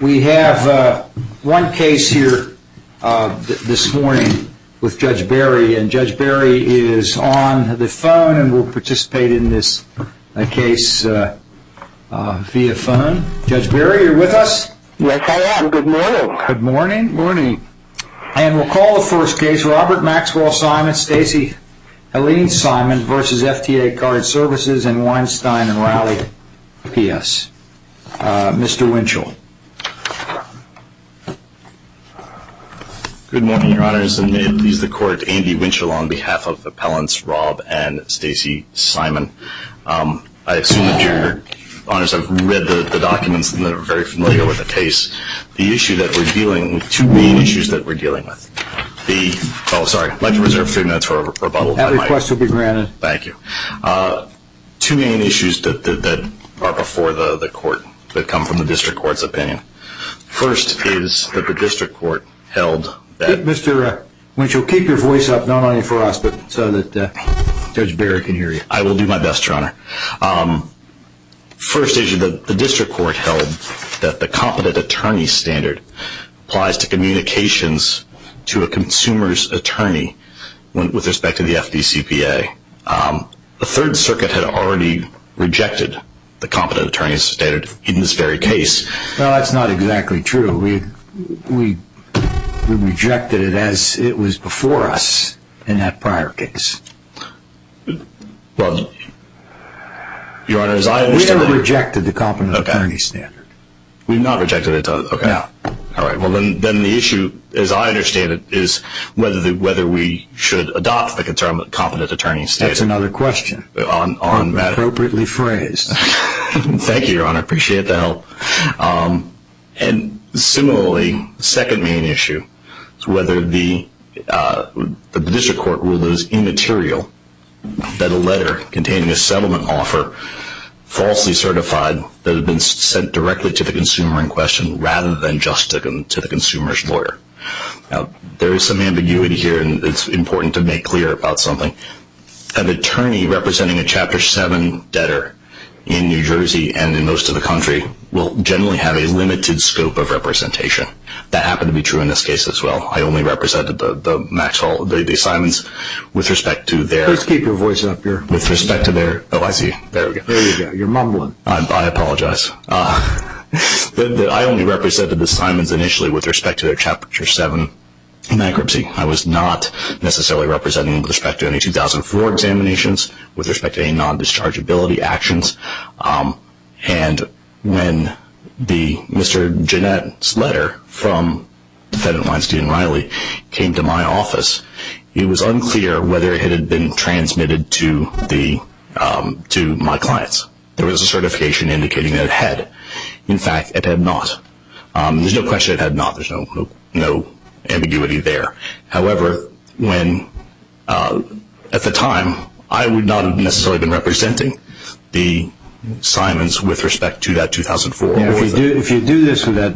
We have one case here this morning with Judge Barry and Judge Barry is on the phone and will participate in this case via phone. Judge Barry, are you with us? Yes, I am. Good morning. Good morning. And we'll call the first case, Robert Maxwell Simon, Stacey Helene Simon v. FIA Card Services in Weinstein and Rowley P.S. Mr. Winchell. Good morning, Your Honors. And may it please the Court, Andy Winchell on behalf of Appellants Rob and Stacey Simon. I assume that Your Honors have read the documents and are very familiar with the case. The issue that we're dealing with, two main issues that we're dealing with. Oh, sorry, I'd like to reserve a few minutes for a rebuttal. That request will be granted. Thank you. Two main issues that are before the Court that come from the District Court's opinion. First is that the District Court held that... Mr. Winchell, keep your voice up, not only for us, but so that Judge Barry can hear you. I will do my best, Your Honor. First issue, the District Court held that the competent attorney standard applies to communications to a consumer's attorney with respect to the FDCPA. The Third Circuit had already rejected the competent attorney standard in this very case. Well, that's not exactly true. We rejected it as it was before us in that prior case. Well, Your Honor, as I understand it... We have rejected the competent attorney standard. We've not rejected it? No. All right. Well, then the issue, as I understand it, is whether we should adopt the competent attorney standard. That's another question, appropriately phrased. Thank you, Your Honor. I appreciate the help. And similarly, the second main issue is whether the District Court rule is immaterial, that a letter containing a settlement offer falsely certified that had been sent directly to the consumer in question rather than just to the consumer's lawyer. Now, there is some ambiguity here, and it's important to make clear about something. An attorney representing a Chapter 7 debtor in New Jersey and in most of the country will generally have a limited scope of representation. That happened to be true in this case as well. I only represented the Simons with respect to their... Please keep your voice up. With respect to their... Oh, I see. There we go. There you go. You're mumbling. I apologize. I only represented the Simons initially with respect to their Chapter 7 bankruptcy. I was not necessarily representing them with respect to any 2004 examinations, with respect to any non-dischargeability actions. And when Mr. Jeanette's letter from defendant Weinstein and Riley came to my office, it was unclear whether it had been transmitted to my clients. There was a certification indicating that it had. In fact, it had not. There's no question it had not. There's no ambiguity there. However, at the time, I would not have necessarily been representing the Simons with respect to that 2004. If you do this with that...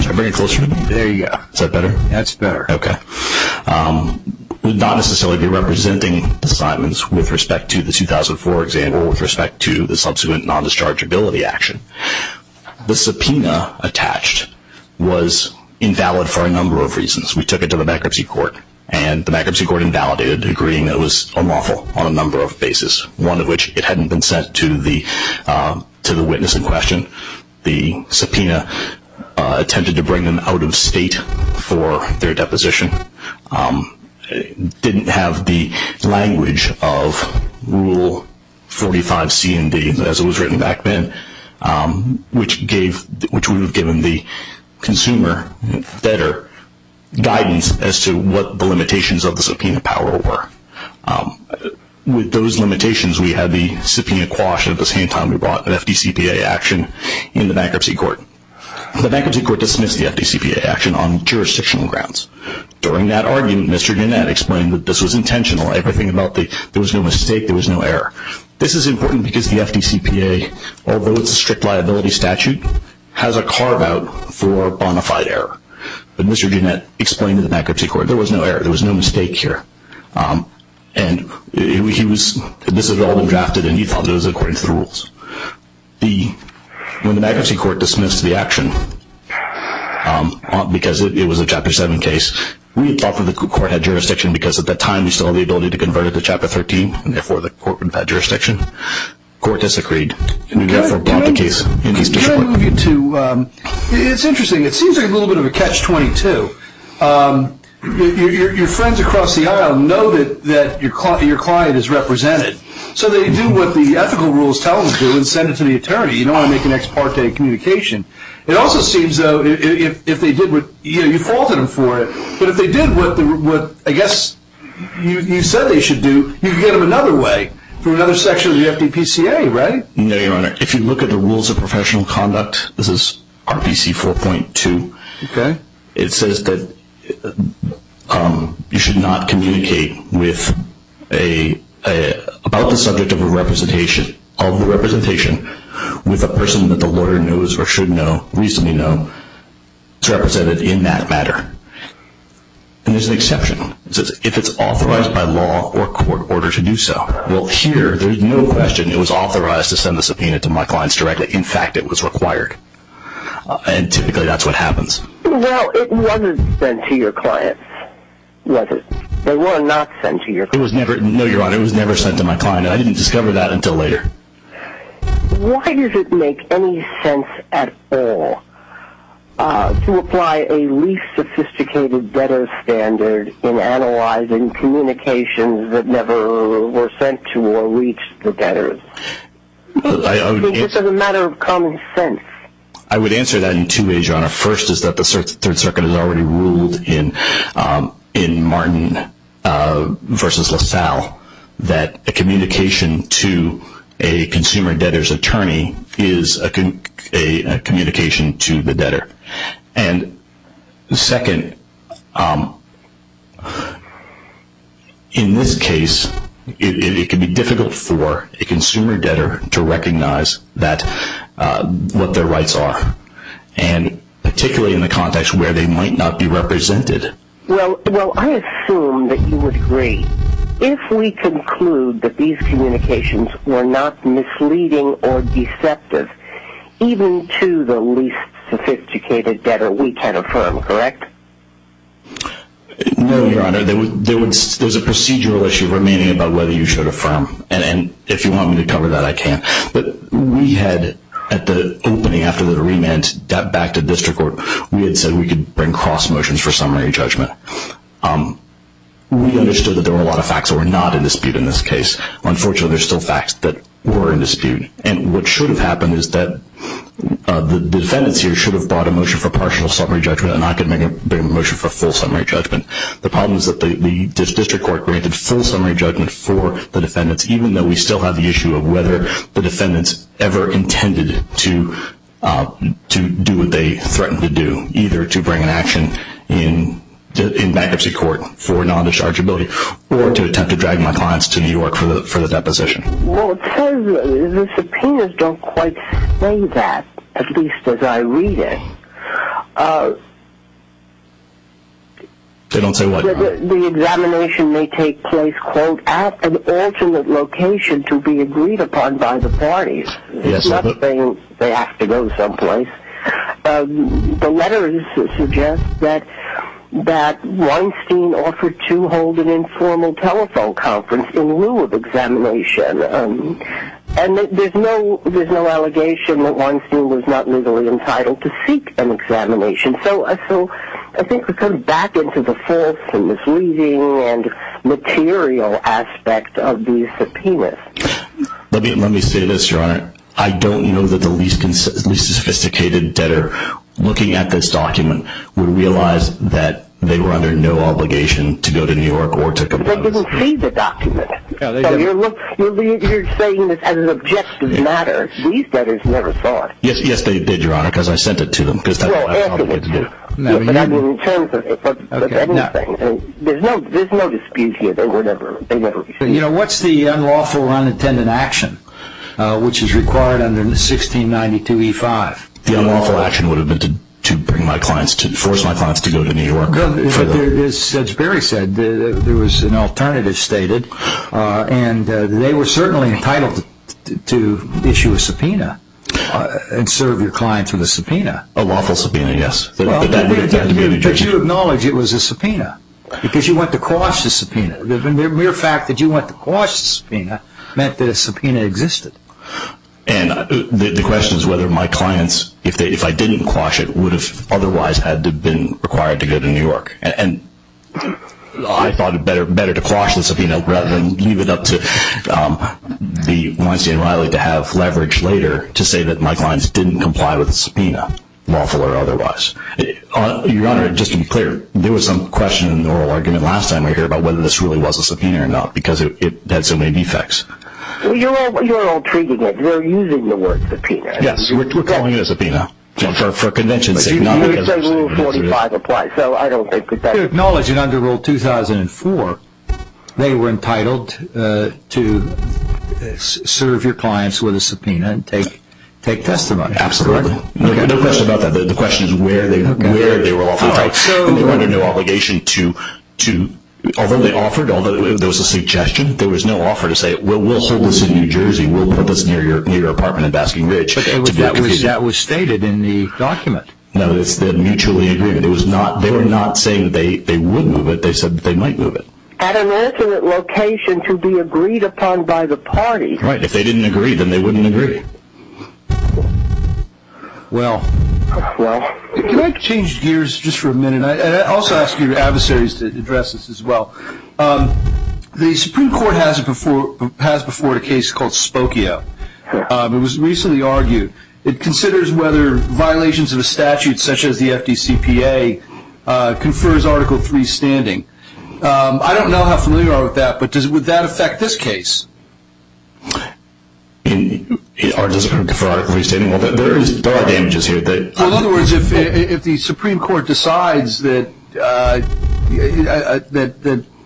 Should I bring it closer? There you go. Is that better? That's better. Okay. I would not necessarily be representing the Simons with respect to the 2004 exam or with respect to the subsequent non-dischargeability action. The subpoena attached was invalid for a number of reasons. We took it to the bankruptcy court, and the bankruptcy court invalidated the agreement. It was unlawful on a number of bases, one of which it hadn't been sent to the witness in question. The subpoena attempted to bring them out of state for their deposition. It didn't have the language of Rule 45C and D, as it was written back then, which would have given the consumer better guidance as to what the limitations of the subpoena power were. With those limitations, we had the subpoena quashed at the same time we brought the FDCPA action in the bankruptcy court. The bankruptcy court dismissed the FDCPA action on jurisdictional grounds. During that argument, Mr. Ginnett explained that this was intentional. Everything about it, there was no mistake. There was no error. This is important because the FDCPA, although it's a strict liability statute, has a carve-out for bona fide error. But Mr. Ginnett explained to the bankruptcy court there was no error. There was no mistake here. And this had all been drafted, and he thought it was according to the rules. When the bankruptcy court dismissed the action, because it was a Chapter 7 case, we thought that the court had jurisdiction because at that time we still had the ability to convert it to Chapter 13, and therefore the court had jurisdiction. The court disagreed, and we therefore brought the case in its discipline. It's interesting. It seems like a little bit of a catch-22. Your friends across the aisle know that your client is represented, so they do what the ethical rules tell them to do and send it to the attorney. You don't want to make an ex parte communication. It also seems, though, if they did what, you know, you faulted them for it, but if they did what I guess you said they should do, you could get them another way, through another section of the FDCPA, right? No, Your Honor. If you look at the rules of professional conduct, this is RPC 4.2. Okay. It says that you should not communicate about the subject of a representation with a person that the lawyer knows or should know, reasonably know, is represented in that matter. And there's an exception. It says if it's authorized by law or court order to do so. Well, here, there's no question it was authorized to send the subpoena to my clients directly. In fact, it was required. And typically that's what happens. Well, it wasn't sent to your clients, was it? They were not sent to your clients. No, Your Honor. It was never sent to my client, and I didn't discover that until later. Why does it make any sense at all to apply a least sophisticated debtor standard in analyzing communications that never were sent to or reached the debtors? It's just a matter of common sense. I would answer that in two ways, Your Honor. First is that the Third Circuit has already ruled in Martin v. LaSalle that a communication to a consumer debtor's attorney is a communication to the debtor. And second, in this case, it can be difficult for a consumer debtor to recognize what their rights are, and particularly in the context where they might not be represented. Well, I assume that you would agree. If we conclude that these communications were not misleading or deceptive, even to the least sophisticated debtor, we can affirm, correct? No, Your Honor. There's a procedural issue remaining about whether you should affirm. And if you want me to cover that, I can. But we had, at the opening after the remand, got back to district court. We had said we could bring cross motions for summary judgment. We understood that there were a lot of facts that were not in dispute in this case. Unfortunately, there are still facts that were in dispute. And what should have happened is that the defendants here should have brought a motion for partial summary judgment, and I could make a motion for full summary judgment. The problem is that the district court granted full summary judgment for the defendants, even though we still have the issue of whether the defendants ever intended to do what they threatened to do, either to bring an action in bankruptcy court for non-dischargeability or to attempt to drag my clients to New York for the deposition. Well, it says the subpoenas don't quite say that, at least as I read it. They don't say what? The examination may take place, quote, at an alternate location to be agreed upon by the parties. It's not saying they have to go someplace. The letters suggest that Weinstein offered to hold an informal telephone conference in lieu of examination, and there's no allegation that Weinstein was not legally entitled to seek an examination. So I think we're kind of back into the false and misleading and material aspect of these subpoenas. Your Honor, I don't know that the least sophisticated debtor looking at this document would realize that they were under no obligation to go to New York or to comply with this. They didn't see the document. You're saying that as an objective matter, these debtors never saw it. Yes, they did, Your Honor, because I sent it to them, because that's all I probably get to do. In terms of anything, there's no dispute here. You know, what's the unlawful or unintended action which is required under 1692E5? The unlawful action would have been to bring my clients, to force my clients to go to New York. As Judge Berry said, there was an alternative stated, and they were certainly entitled to issue a subpoena and serve your client through the subpoena. A lawful subpoena, yes. But you acknowledge it was a subpoena, because you went to quash the subpoena. The mere fact that you went to quash the subpoena meant that a subpoena existed. And the question is whether my clients, if I didn't quash it, would have otherwise had been required to go to New York. And I thought it better to quash the subpoena rather than leave it up to the Weinstein and Riley to have leverage later to say that my clients didn't comply with the subpoena, lawful or otherwise. Your Honor, just to be clear, there was some question in the oral argument last time we were here about whether this really was a subpoena or not, because it had so many defects. You're all treating it, you're using the word subpoena. Yes, we're calling it a subpoena for convention sake. You say Rule 45 applies, so I don't think that... But you acknowledge that under Rule 2004, they were entitled to serve your clients with a subpoena and take testimony. Absolutely. No question about that. The question is where they were offered. They were under no obligation to... although they offered, although there was a suggestion, there was no offer to say, we'll hold this in New Jersey, we'll put this near your apartment in Basking Ridge. But that was stated in the document. No, it's the mutually agreement. They were not saying that they would move it, they said that they might move it. At an alternate location to be agreed upon by the party. Right, if they didn't agree, then they wouldn't agree. Well, can I change gears just for a minute? I also ask your adversaries to address this as well. The Supreme Court has before it a case called Spokio. It was recently argued. It considers whether violations of a statute such as the FDCPA confers Article 3 standing. I don't know how familiar you are with that, but would that affect this case? Does it confer Article 3 standing? There are damages here. In other words, if the Supreme Court decides that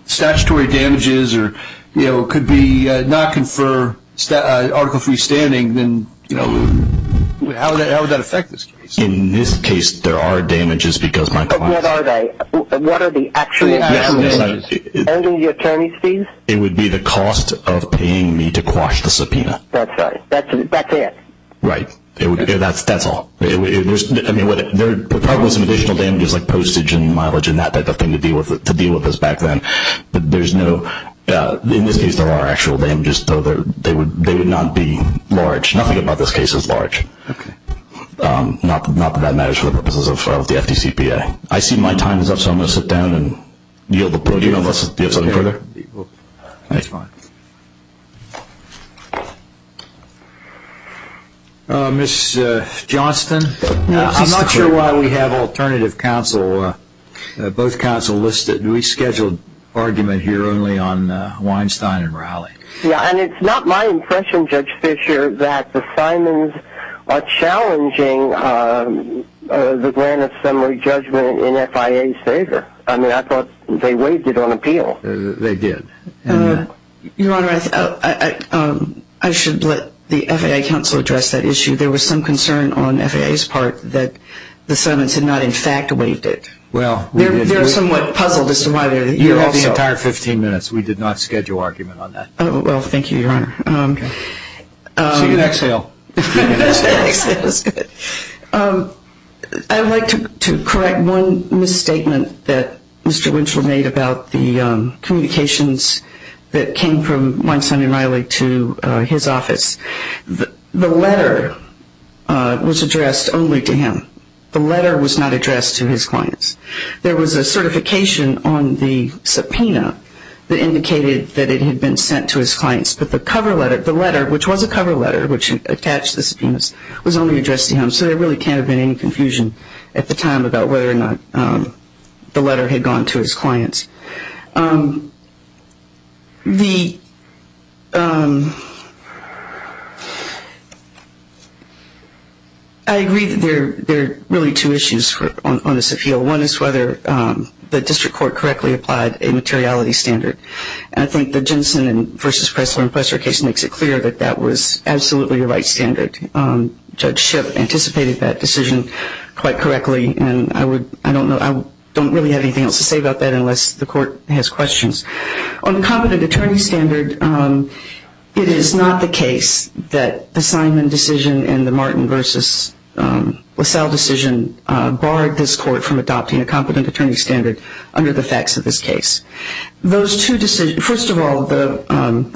statutory damages could not confer Article 3 standing, then how would that affect this case? In this case, there are damages because my client... But what are they? What are the actual damages? It would be the cost of paying me to quash the subpoena. That's right. That's it. Right. That's all. I mean, there are probably some additional damages like postage and mileage and that type of thing to deal with us back then. But there's no... In this case, there are actual damages, though they would not be large. Nothing about this case is large. Okay. Not that that matters for the purposes of the FDCPA. I see my time is up, so I'm going to sit down and yield the podium unless you have something further. That's fine. Ms. Johnston, I'm not sure why we have alternative counsel, both counsel listed. We scheduled argument here only on Weinstein and Rowley. Yeah, and it's not my impression, Judge Fischer, that the Simons are challenging the grant of summary judgment in FIA's favor. I mean, I thought they waived it on appeal. They did. Your Honor, I should let the FIA counsel address that issue. There was some concern on FIA's part that the Simons had not, in fact, waived it. Well, we did. They're somewhat puzzled as to why they're here also. You have the entire 15 minutes. We did not schedule argument on that. Well, thank you, Your Honor. Okay. So you can exhale. You can exhale. I'd like to correct one misstatement that Mr. Winchell made about the communications that came from Weinstein and Rowley to his office. The letter was addressed only to him. The letter was not addressed to his clients. There was a certification on the subpoena that indicated that it had been sent to his clients, but the cover letter, the letter, which was a cover letter, which attached the subpoenas, was only addressed to him. So there really can't have been any confusion at the time about whether or not the letter had gone to his clients. I agree that there are really two issues on this appeal. One is whether the district court correctly applied a materiality standard. I think the Jensen v. Pressler and Pressler case makes it clear that that was absolutely the right standard. Judge Shipp anticipated that decision quite correctly, and I don't really have anything else to say about that unless the court has questions. On the competent attorney standard, it is not the case that the Simon decision and the Martin v. LaSalle decision barred this court from adopting a competent attorney standard under the facts of this case. First of all,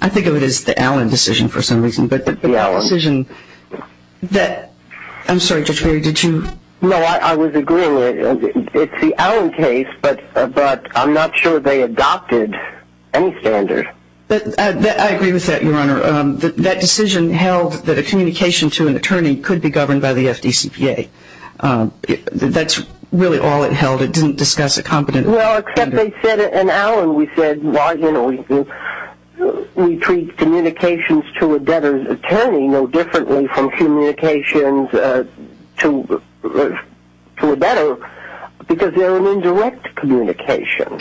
I think of it as the Allen decision for some reason. The Allen. I'm sorry, Judge Berry, did you? No, I was agreeing. It's the Allen case, but I'm not sure they adopted any standard. I agree with that, Your Honor. That decision held that a communication to an attorney could be governed by the FDCPA. It didn't discuss a competent attorney standard. Well, except they said it in Allen. We said we treat communications to a debtor's attorney no differently from communications to a debtor because they're an indirect communication.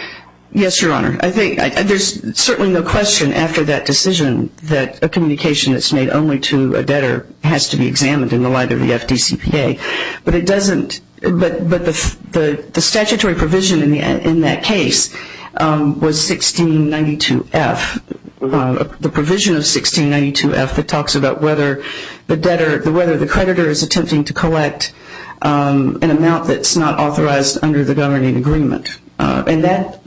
Yes, Your Honor. There's certainly no question after that decision that a communication that's made only to a debtor has to be examined in the light of the FDCPA. But the statutory provision in that case was 1692F. The provision of 1692F that talks about whether the creditor is attempting to collect an amount that's not authorized under the governing agreement. And that,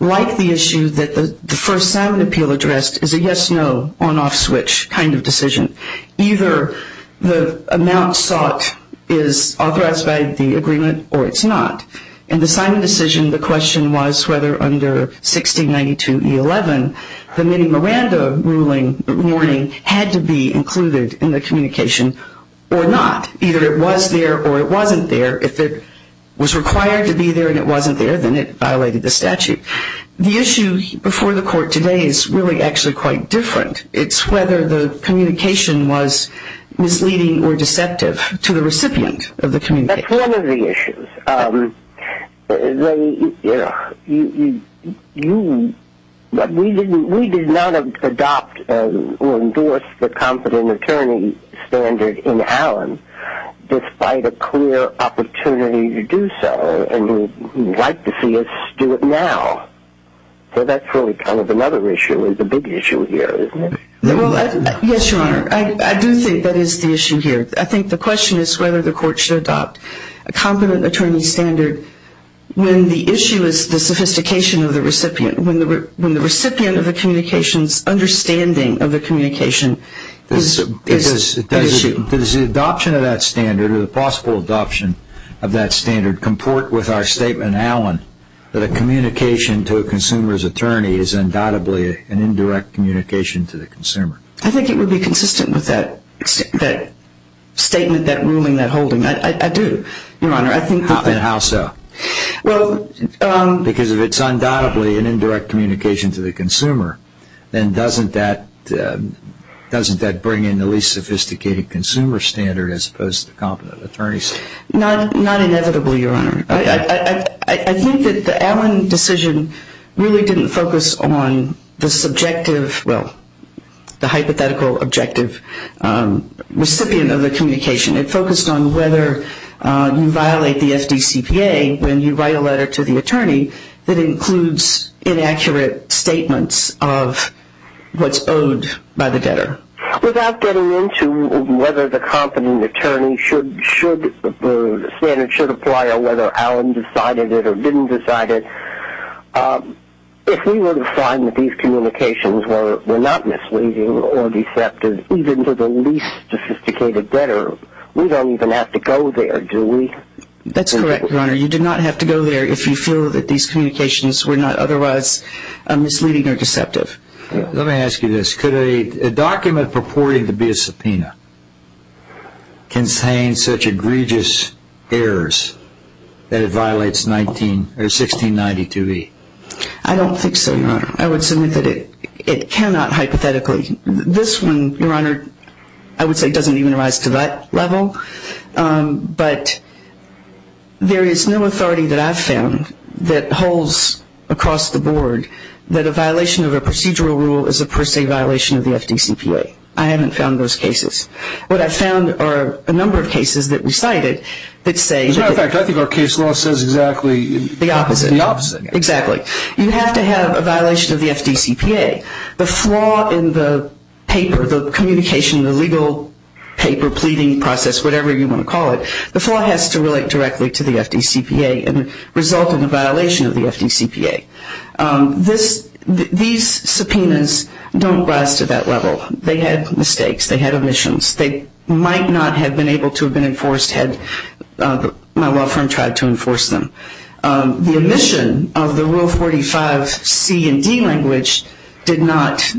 like the issue that the first Simon appeal addressed, is a yes-no, on-off switch kind of decision. Either the amount sought is authorized by the agreement or it's not. In the Simon decision, the question was whether under 1692E11, the Minnie Miranda ruling had to be included in the communication or not. Either it was there or it wasn't there. If it was required to be there and it wasn't there, then it violated the statute. The issue before the court today is really actually quite different. It's whether the communication was misleading or deceptive to the recipient of the communication. That's one of the issues. We did not adopt or endorse the competent attorney standard in Allen, despite a clear opportunity to do so and would like to see us do it now. So that's really kind of another issue. It's a big issue here, isn't it? Yes, Your Honor. I do think that is the issue here. I think the question is whether the court should adopt a competent attorney standard when the issue is the sophistication of the recipient, when the recipient of the communication's understanding of the communication is at issue. Does the adoption of that standard or the possible adoption of that standard comport with our statement in Allen that a communication to a consumer's attorney is undoubtedly an indirect communication to the consumer? I think it would be consistent with that statement, that ruling, that holding. I do, Your Honor. And how so? Because if it's undoubtedly an indirect communication to the consumer, then doesn't that bring in the least sophisticated consumer standard as opposed to the competent attorney standard? Not inevitably, Your Honor. I think that the Allen decision really didn't focus on the subjective, well, the hypothetical objective recipient of the communication. It focused on whether you violate the FDCPA when you write a letter to the attorney that includes inaccurate statements of what's owed by the debtor. Without getting into whether the competent attorney standard should apply or whether Allen decided it or didn't decide it, if we were to find that these communications were not misleading or deceptive, even to the least sophisticated debtor, we don't even have to go there, do we? That's correct, Your Honor. You do not have to go there if you feel that these communications were not otherwise misleading or deceptive. Let me ask you this. Could a document purporting to be a subpoena contain such egregious errors that it violates 1692E? I don't think so, Your Honor. I would submit that it cannot hypothetically. This one, Your Honor, I would say doesn't even rise to that level. But there is no authority that I've found that holds across the board that a violation of a procedural rule is a per se violation of the FDCPA. I haven't found those cases. What I've found are a number of cases that we cited that say that... As a matter of fact, I think our case law says exactly... The opposite. The opposite. Exactly. You have to have a violation of the FDCPA. The flaw in the paper, the communication, the legal paper, pleading process, whatever you want to call it, the flaw has to relate directly to the FDCPA and result in a violation of the FDCPA. These subpoenas don't rise to that level. They had mistakes. They had omissions. They might not have been able to have been enforced had my law firm tried to enforce them. The omission of the Rule 45 C and D language did not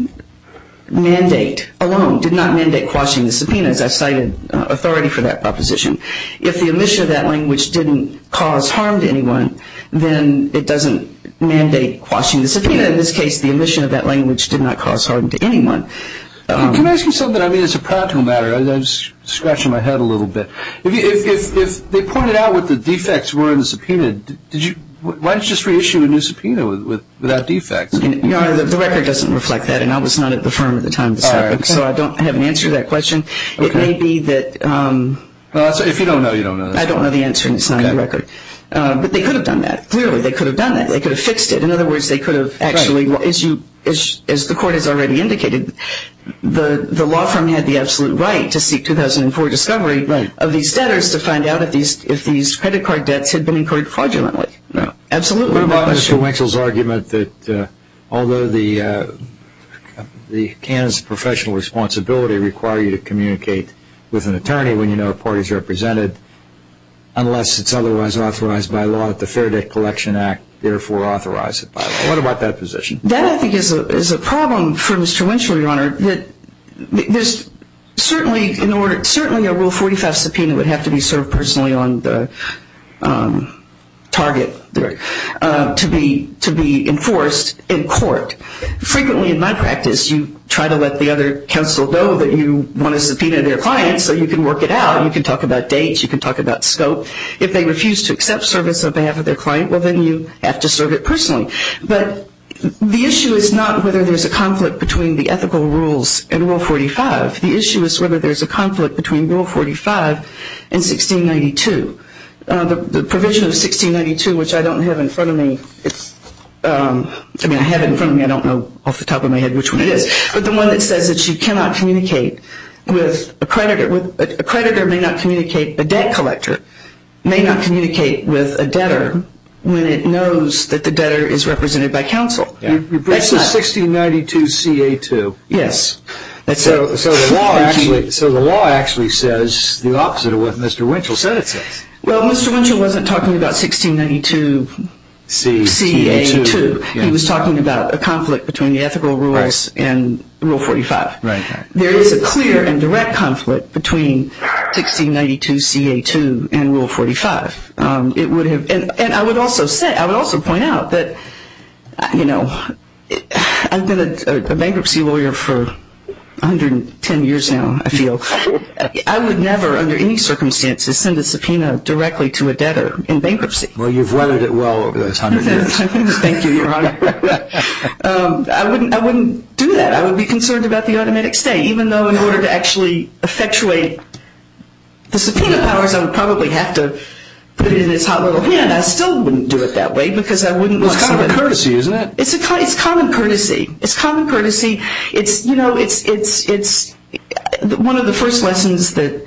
mandate alone, did not mandate quashing the subpoenas. I've cited authority for that proposition. If the omission of that language didn't cause harm to anyone, then it doesn't mandate quashing the subpoena. In this case, the omission of that language did not cause harm to anyone. Can I ask you something? I mean, it's a practical matter. I'm just scratching my head a little bit. If they pointed out what the defects were in the subpoena, why didn't you just reissue a new subpoena without defects? The record doesn't reflect that, and I was not at the firm at the time of this topic, so I don't have an answer to that question. If you don't know, you don't know. I don't know the answer, and it's not in the record. But they could have done that. Clearly, they could have done that. They could have fixed it. In other words, they could have actually, as the Court has already indicated, the law firm had the absolute right to seek 2004 discovery of these debtors to find out if these credit card debts had been incurred fraudulently. Absolutely. What about Mr. Winchell's argument that although the CAN's professional responsibility requires you to communicate with an attorney when you know a party is represented, unless it's otherwise authorized by law at the Fair Debt Collection Act, therefore authorize it by law? What about that position? That, I think, is a problem for Mr. Winchell, Your Honor. There's certainly a Rule 45 subpoena would have to be served personally on the target to be enforced in court. Frequently in my practice, you try to let the other counsel know that you want to subpoena their client so you can work it out. You can talk about dates. You can talk about scope. If they refuse to accept service on behalf of their client, well, then you have to serve it personally. But the issue is not whether there's a conflict between the ethical rules and Rule 45. The issue is whether there's a conflict between Rule 45 and 1692. The provision of 1692, which I don't have in front of me, I mean, I have it in front of me. I don't know off the top of my head which one it is. But the one that says that you cannot communicate with a creditor. A creditor may not communicate, a debt collector may not communicate with a debtor when it knows that the debtor is represented by counsel. That's not 1692CA2. Yes. So the law actually says the opposite of what Mr. Winchell said it says. Well, Mr. Winchell wasn't talking about 1692CA2. He was talking about a conflict between the ethical rules and Rule 45. There is a clear and direct conflict between 1692CA2 and Rule 45. And I would also point out that, you know, I've been a bankruptcy lawyer for 110 years now, I feel. I would never under any circumstances send a subpoena directly to a debtor in bankruptcy. Well, you've weathered it well over those 100 years. Thank you, Your Honor. I wouldn't do that. I would be concerned about the automatic stay. Even though in order to actually effectuate the subpoena powers, I would probably have to put it in his hot little hand. I still wouldn't do it that way because I wouldn't want somebody to. It's common courtesy, isn't it? It's common courtesy. It's common courtesy. It's, you know, it's one of the first lessons that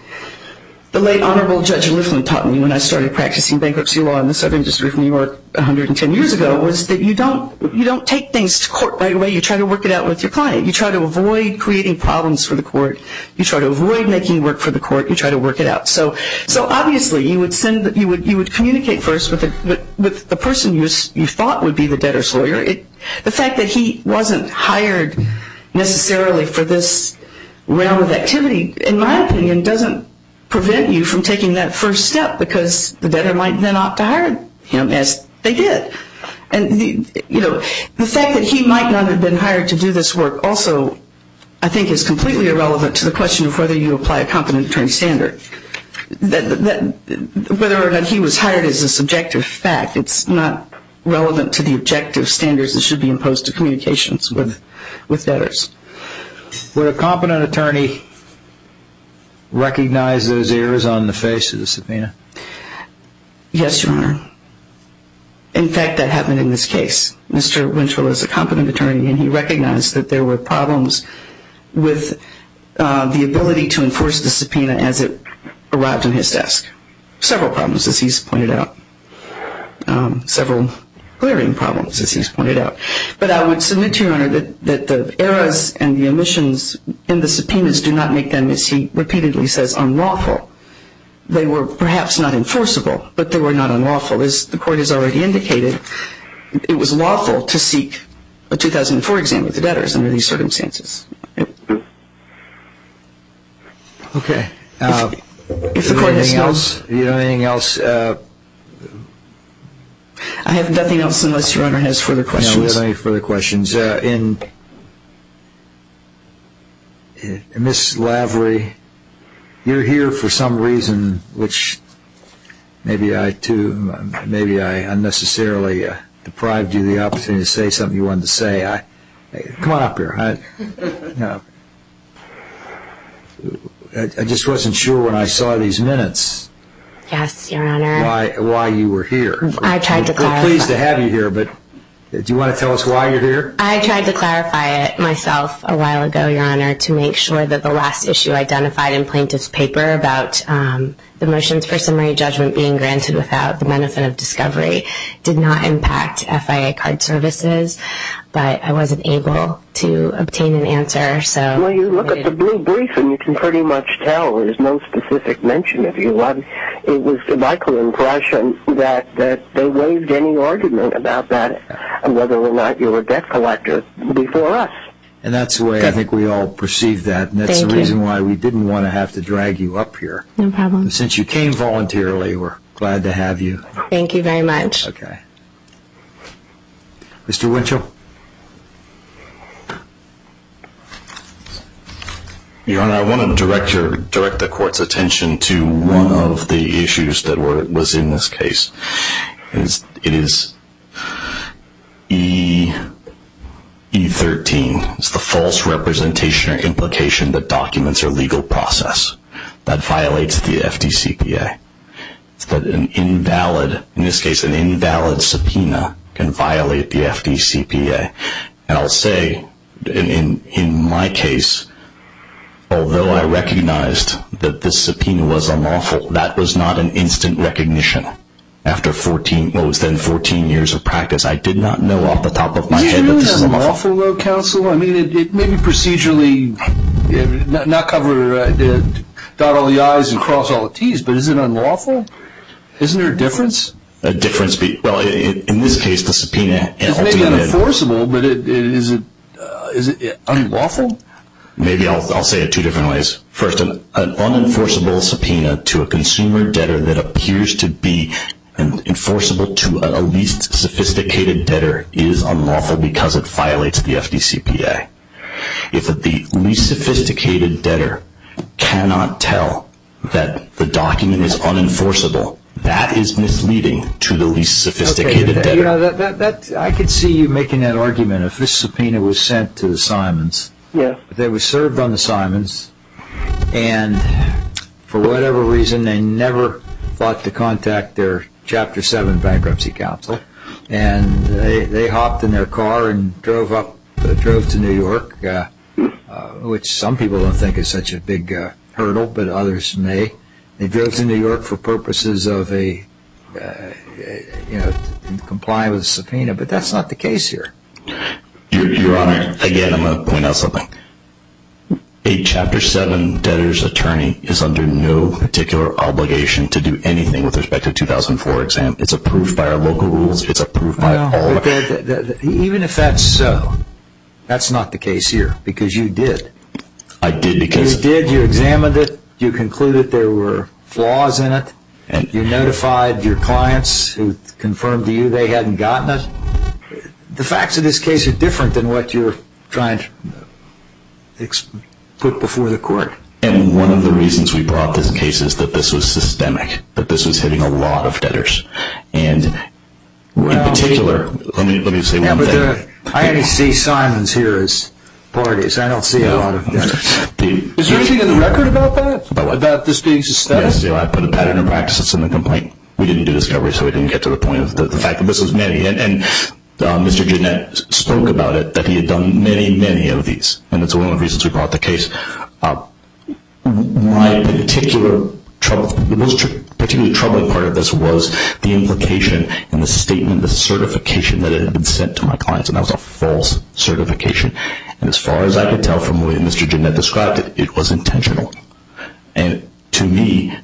the late Honorable Judge Lifflin taught me when I started practicing bankruptcy law in the Southern District of New York 110 years ago was that you don't take things to court right away. You try to work it out with your client. You try to avoid creating problems for the court. You try to avoid making work for the court. You try to work it out. So obviously you would send, you would communicate first with the person you thought would be the debtor's lawyer. The fact that he wasn't hired necessarily for this realm of activity, in my opinion, doesn't prevent you from taking that first step because the debtor might then opt to hire him as they did. The fact that he might not have been hired to do this work also, I think, is completely irrelevant to the question of whether you apply a competent attorney standard. Whether or not he was hired is a subjective fact. It's not relevant to the objective standards that should be imposed to communications with debtors. Would a competent attorney recognize those errors on the face of the subpoena? Yes, Your Honor. In fact, that happened in this case. Mr. Winchell is a competent attorney, and he recognized that there were problems with the ability to enforce the subpoena as it arrived on his desk. Several problems, as he's pointed out. Several clearing problems, as he's pointed out. But I would submit to you, Your Honor, that the errors and the omissions in the subpoenas do not make them, as he repeatedly says, unlawful. They were perhaps not enforceable, but they were not unlawful. As the Court has already indicated, it was lawful to seek a 2004 exam with the debtors under these circumstances. Okay. If the Court has no... Do you have anything else? I have nothing else unless Your Honor has further questions. No further questions. Ms. Lavery, you're here for some reason, which maybe I unnecessarily deprived you of the opportunity to say something you wanted to say. Come on up here. I just wasn't sure when I saw these minutes... Yes, Your Honor. ...why you were here. I tried to call. I'm pleased to have you here, but do you want to tell us why you're here? I tried to clarify it myself a while ago, Your Honor, to make sure that the last issue identified in Plaintiff's paper about the motions for summary judgment being granted without the benefit of discovery did not impact FIA card services, but I wasn't able to obtain an answer, so... Well, you look at the brief, and you can pretty much tell there's no specific mention of you. It was my impression that they waived any argument about that, whether or not you were a debt collector before us. And that's the way I think we all perceive that. Thank you. And that's the reason why we didn't want to have to drag you up here. No problem. And since you came voluntarily, we're glad to have you. Thank you very much. Okay. Mr. Winchell? Your Honor, I want to direct the Court's attention to one of the issues that was in this case. It is E13. It's the false representation or implication that documents are legal process. That violates the FDCPA. It's that an invalid, in this case, an invalid subpoena can violate the FDCPA. And I'll say, in my case, although I recognized that this subpoena was unlawful, that was not an instant recognition. After what was then 14 years of practice, I did not know off the top of my head that this was unlawful. Is it really unlawful, though, counsel? I mean, it may be procedurally, not cover, dot all the I's and cross all the T's, but is it unlawful? Isn't there a difference? A difference? Well, in this case, the subpoena ultimately – It's maybe unenforceable, but is it unlawful? Maybe. I'll say it two different ways. First, an unenforceable subpoena to a consumer debtor that appears to be enforceable to a least sophisticated debtor is unlawful because it violates the FDCPA. If the least sophisticated debtor cannot tell that the document is unenforceable, that is misleading to the least sophisticated debtor. I could see you making that argument. If this subpoena was sent to the Simons, they were served on the Simons, and for whatever reason, they never thought to contact their Chapter 7 bankruptcy counsel, and they hopped in their car and drove to New York, which some people don't think is such a big hurdle, but others may. They drove to New York for purposes of complying with the subpoena, but that's not the case here. Your Honor, again, I'm going to point out something. A Chapter 7 debtor's attorney is under no particular obligation to do anything with respect to a 2004 exam. It's approved by our local rules. It's approved by all of us. Even if that's so, that's not the case here because you did. I did because… You did. You examined it. You concluded there were flaws in it. You notified your clients who confirmed to you they hadn't gotten it. The facts of this case are different than what you're trying to put before the Court. And one of the reasons we brought this case is that this was systemic, that this was hitting a lot of debtors. And in particular, let me say one thing. I only see Simons here as parties. I don't see a lot of debtors. Is there anything in the record about that, about this being systemic? Yes. I put a pattern of practice in the complaint. We didn't do discovery, so we didn't get to the point of the fact that this was many. And Mr. Ginnett spoke about it, that he had done many, many of these, and that's one of the reasons we brought the case. My particular, the most particularly troubling part of this was the implication and the statement, the certification that it had been sent to my clients, and that was a false certification. And as far as I could tell from the way Mr. Ginnett described it, it was intentional. And to me,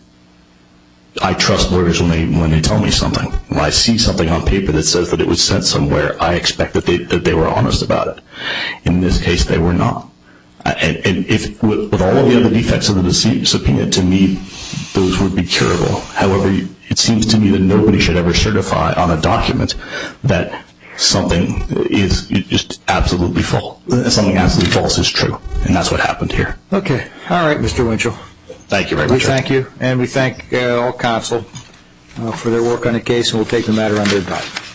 I trust lawyers when they tell me something. When I see something on paper that says that it was sent somewhere, I expect that they were honest about it. In this case, they were not. And with all of the other defects of the subpoena, to me, those would be curable. However, it seems to me that nobody should ever certify on a document that something is just absolutely false. That something absolutely false is true, and that's what happened here. Okay. All right, Mr. Winchell. Thank you very much. We thank you, and we thank all counsel for their work on the case, and we'll take the matter on their time.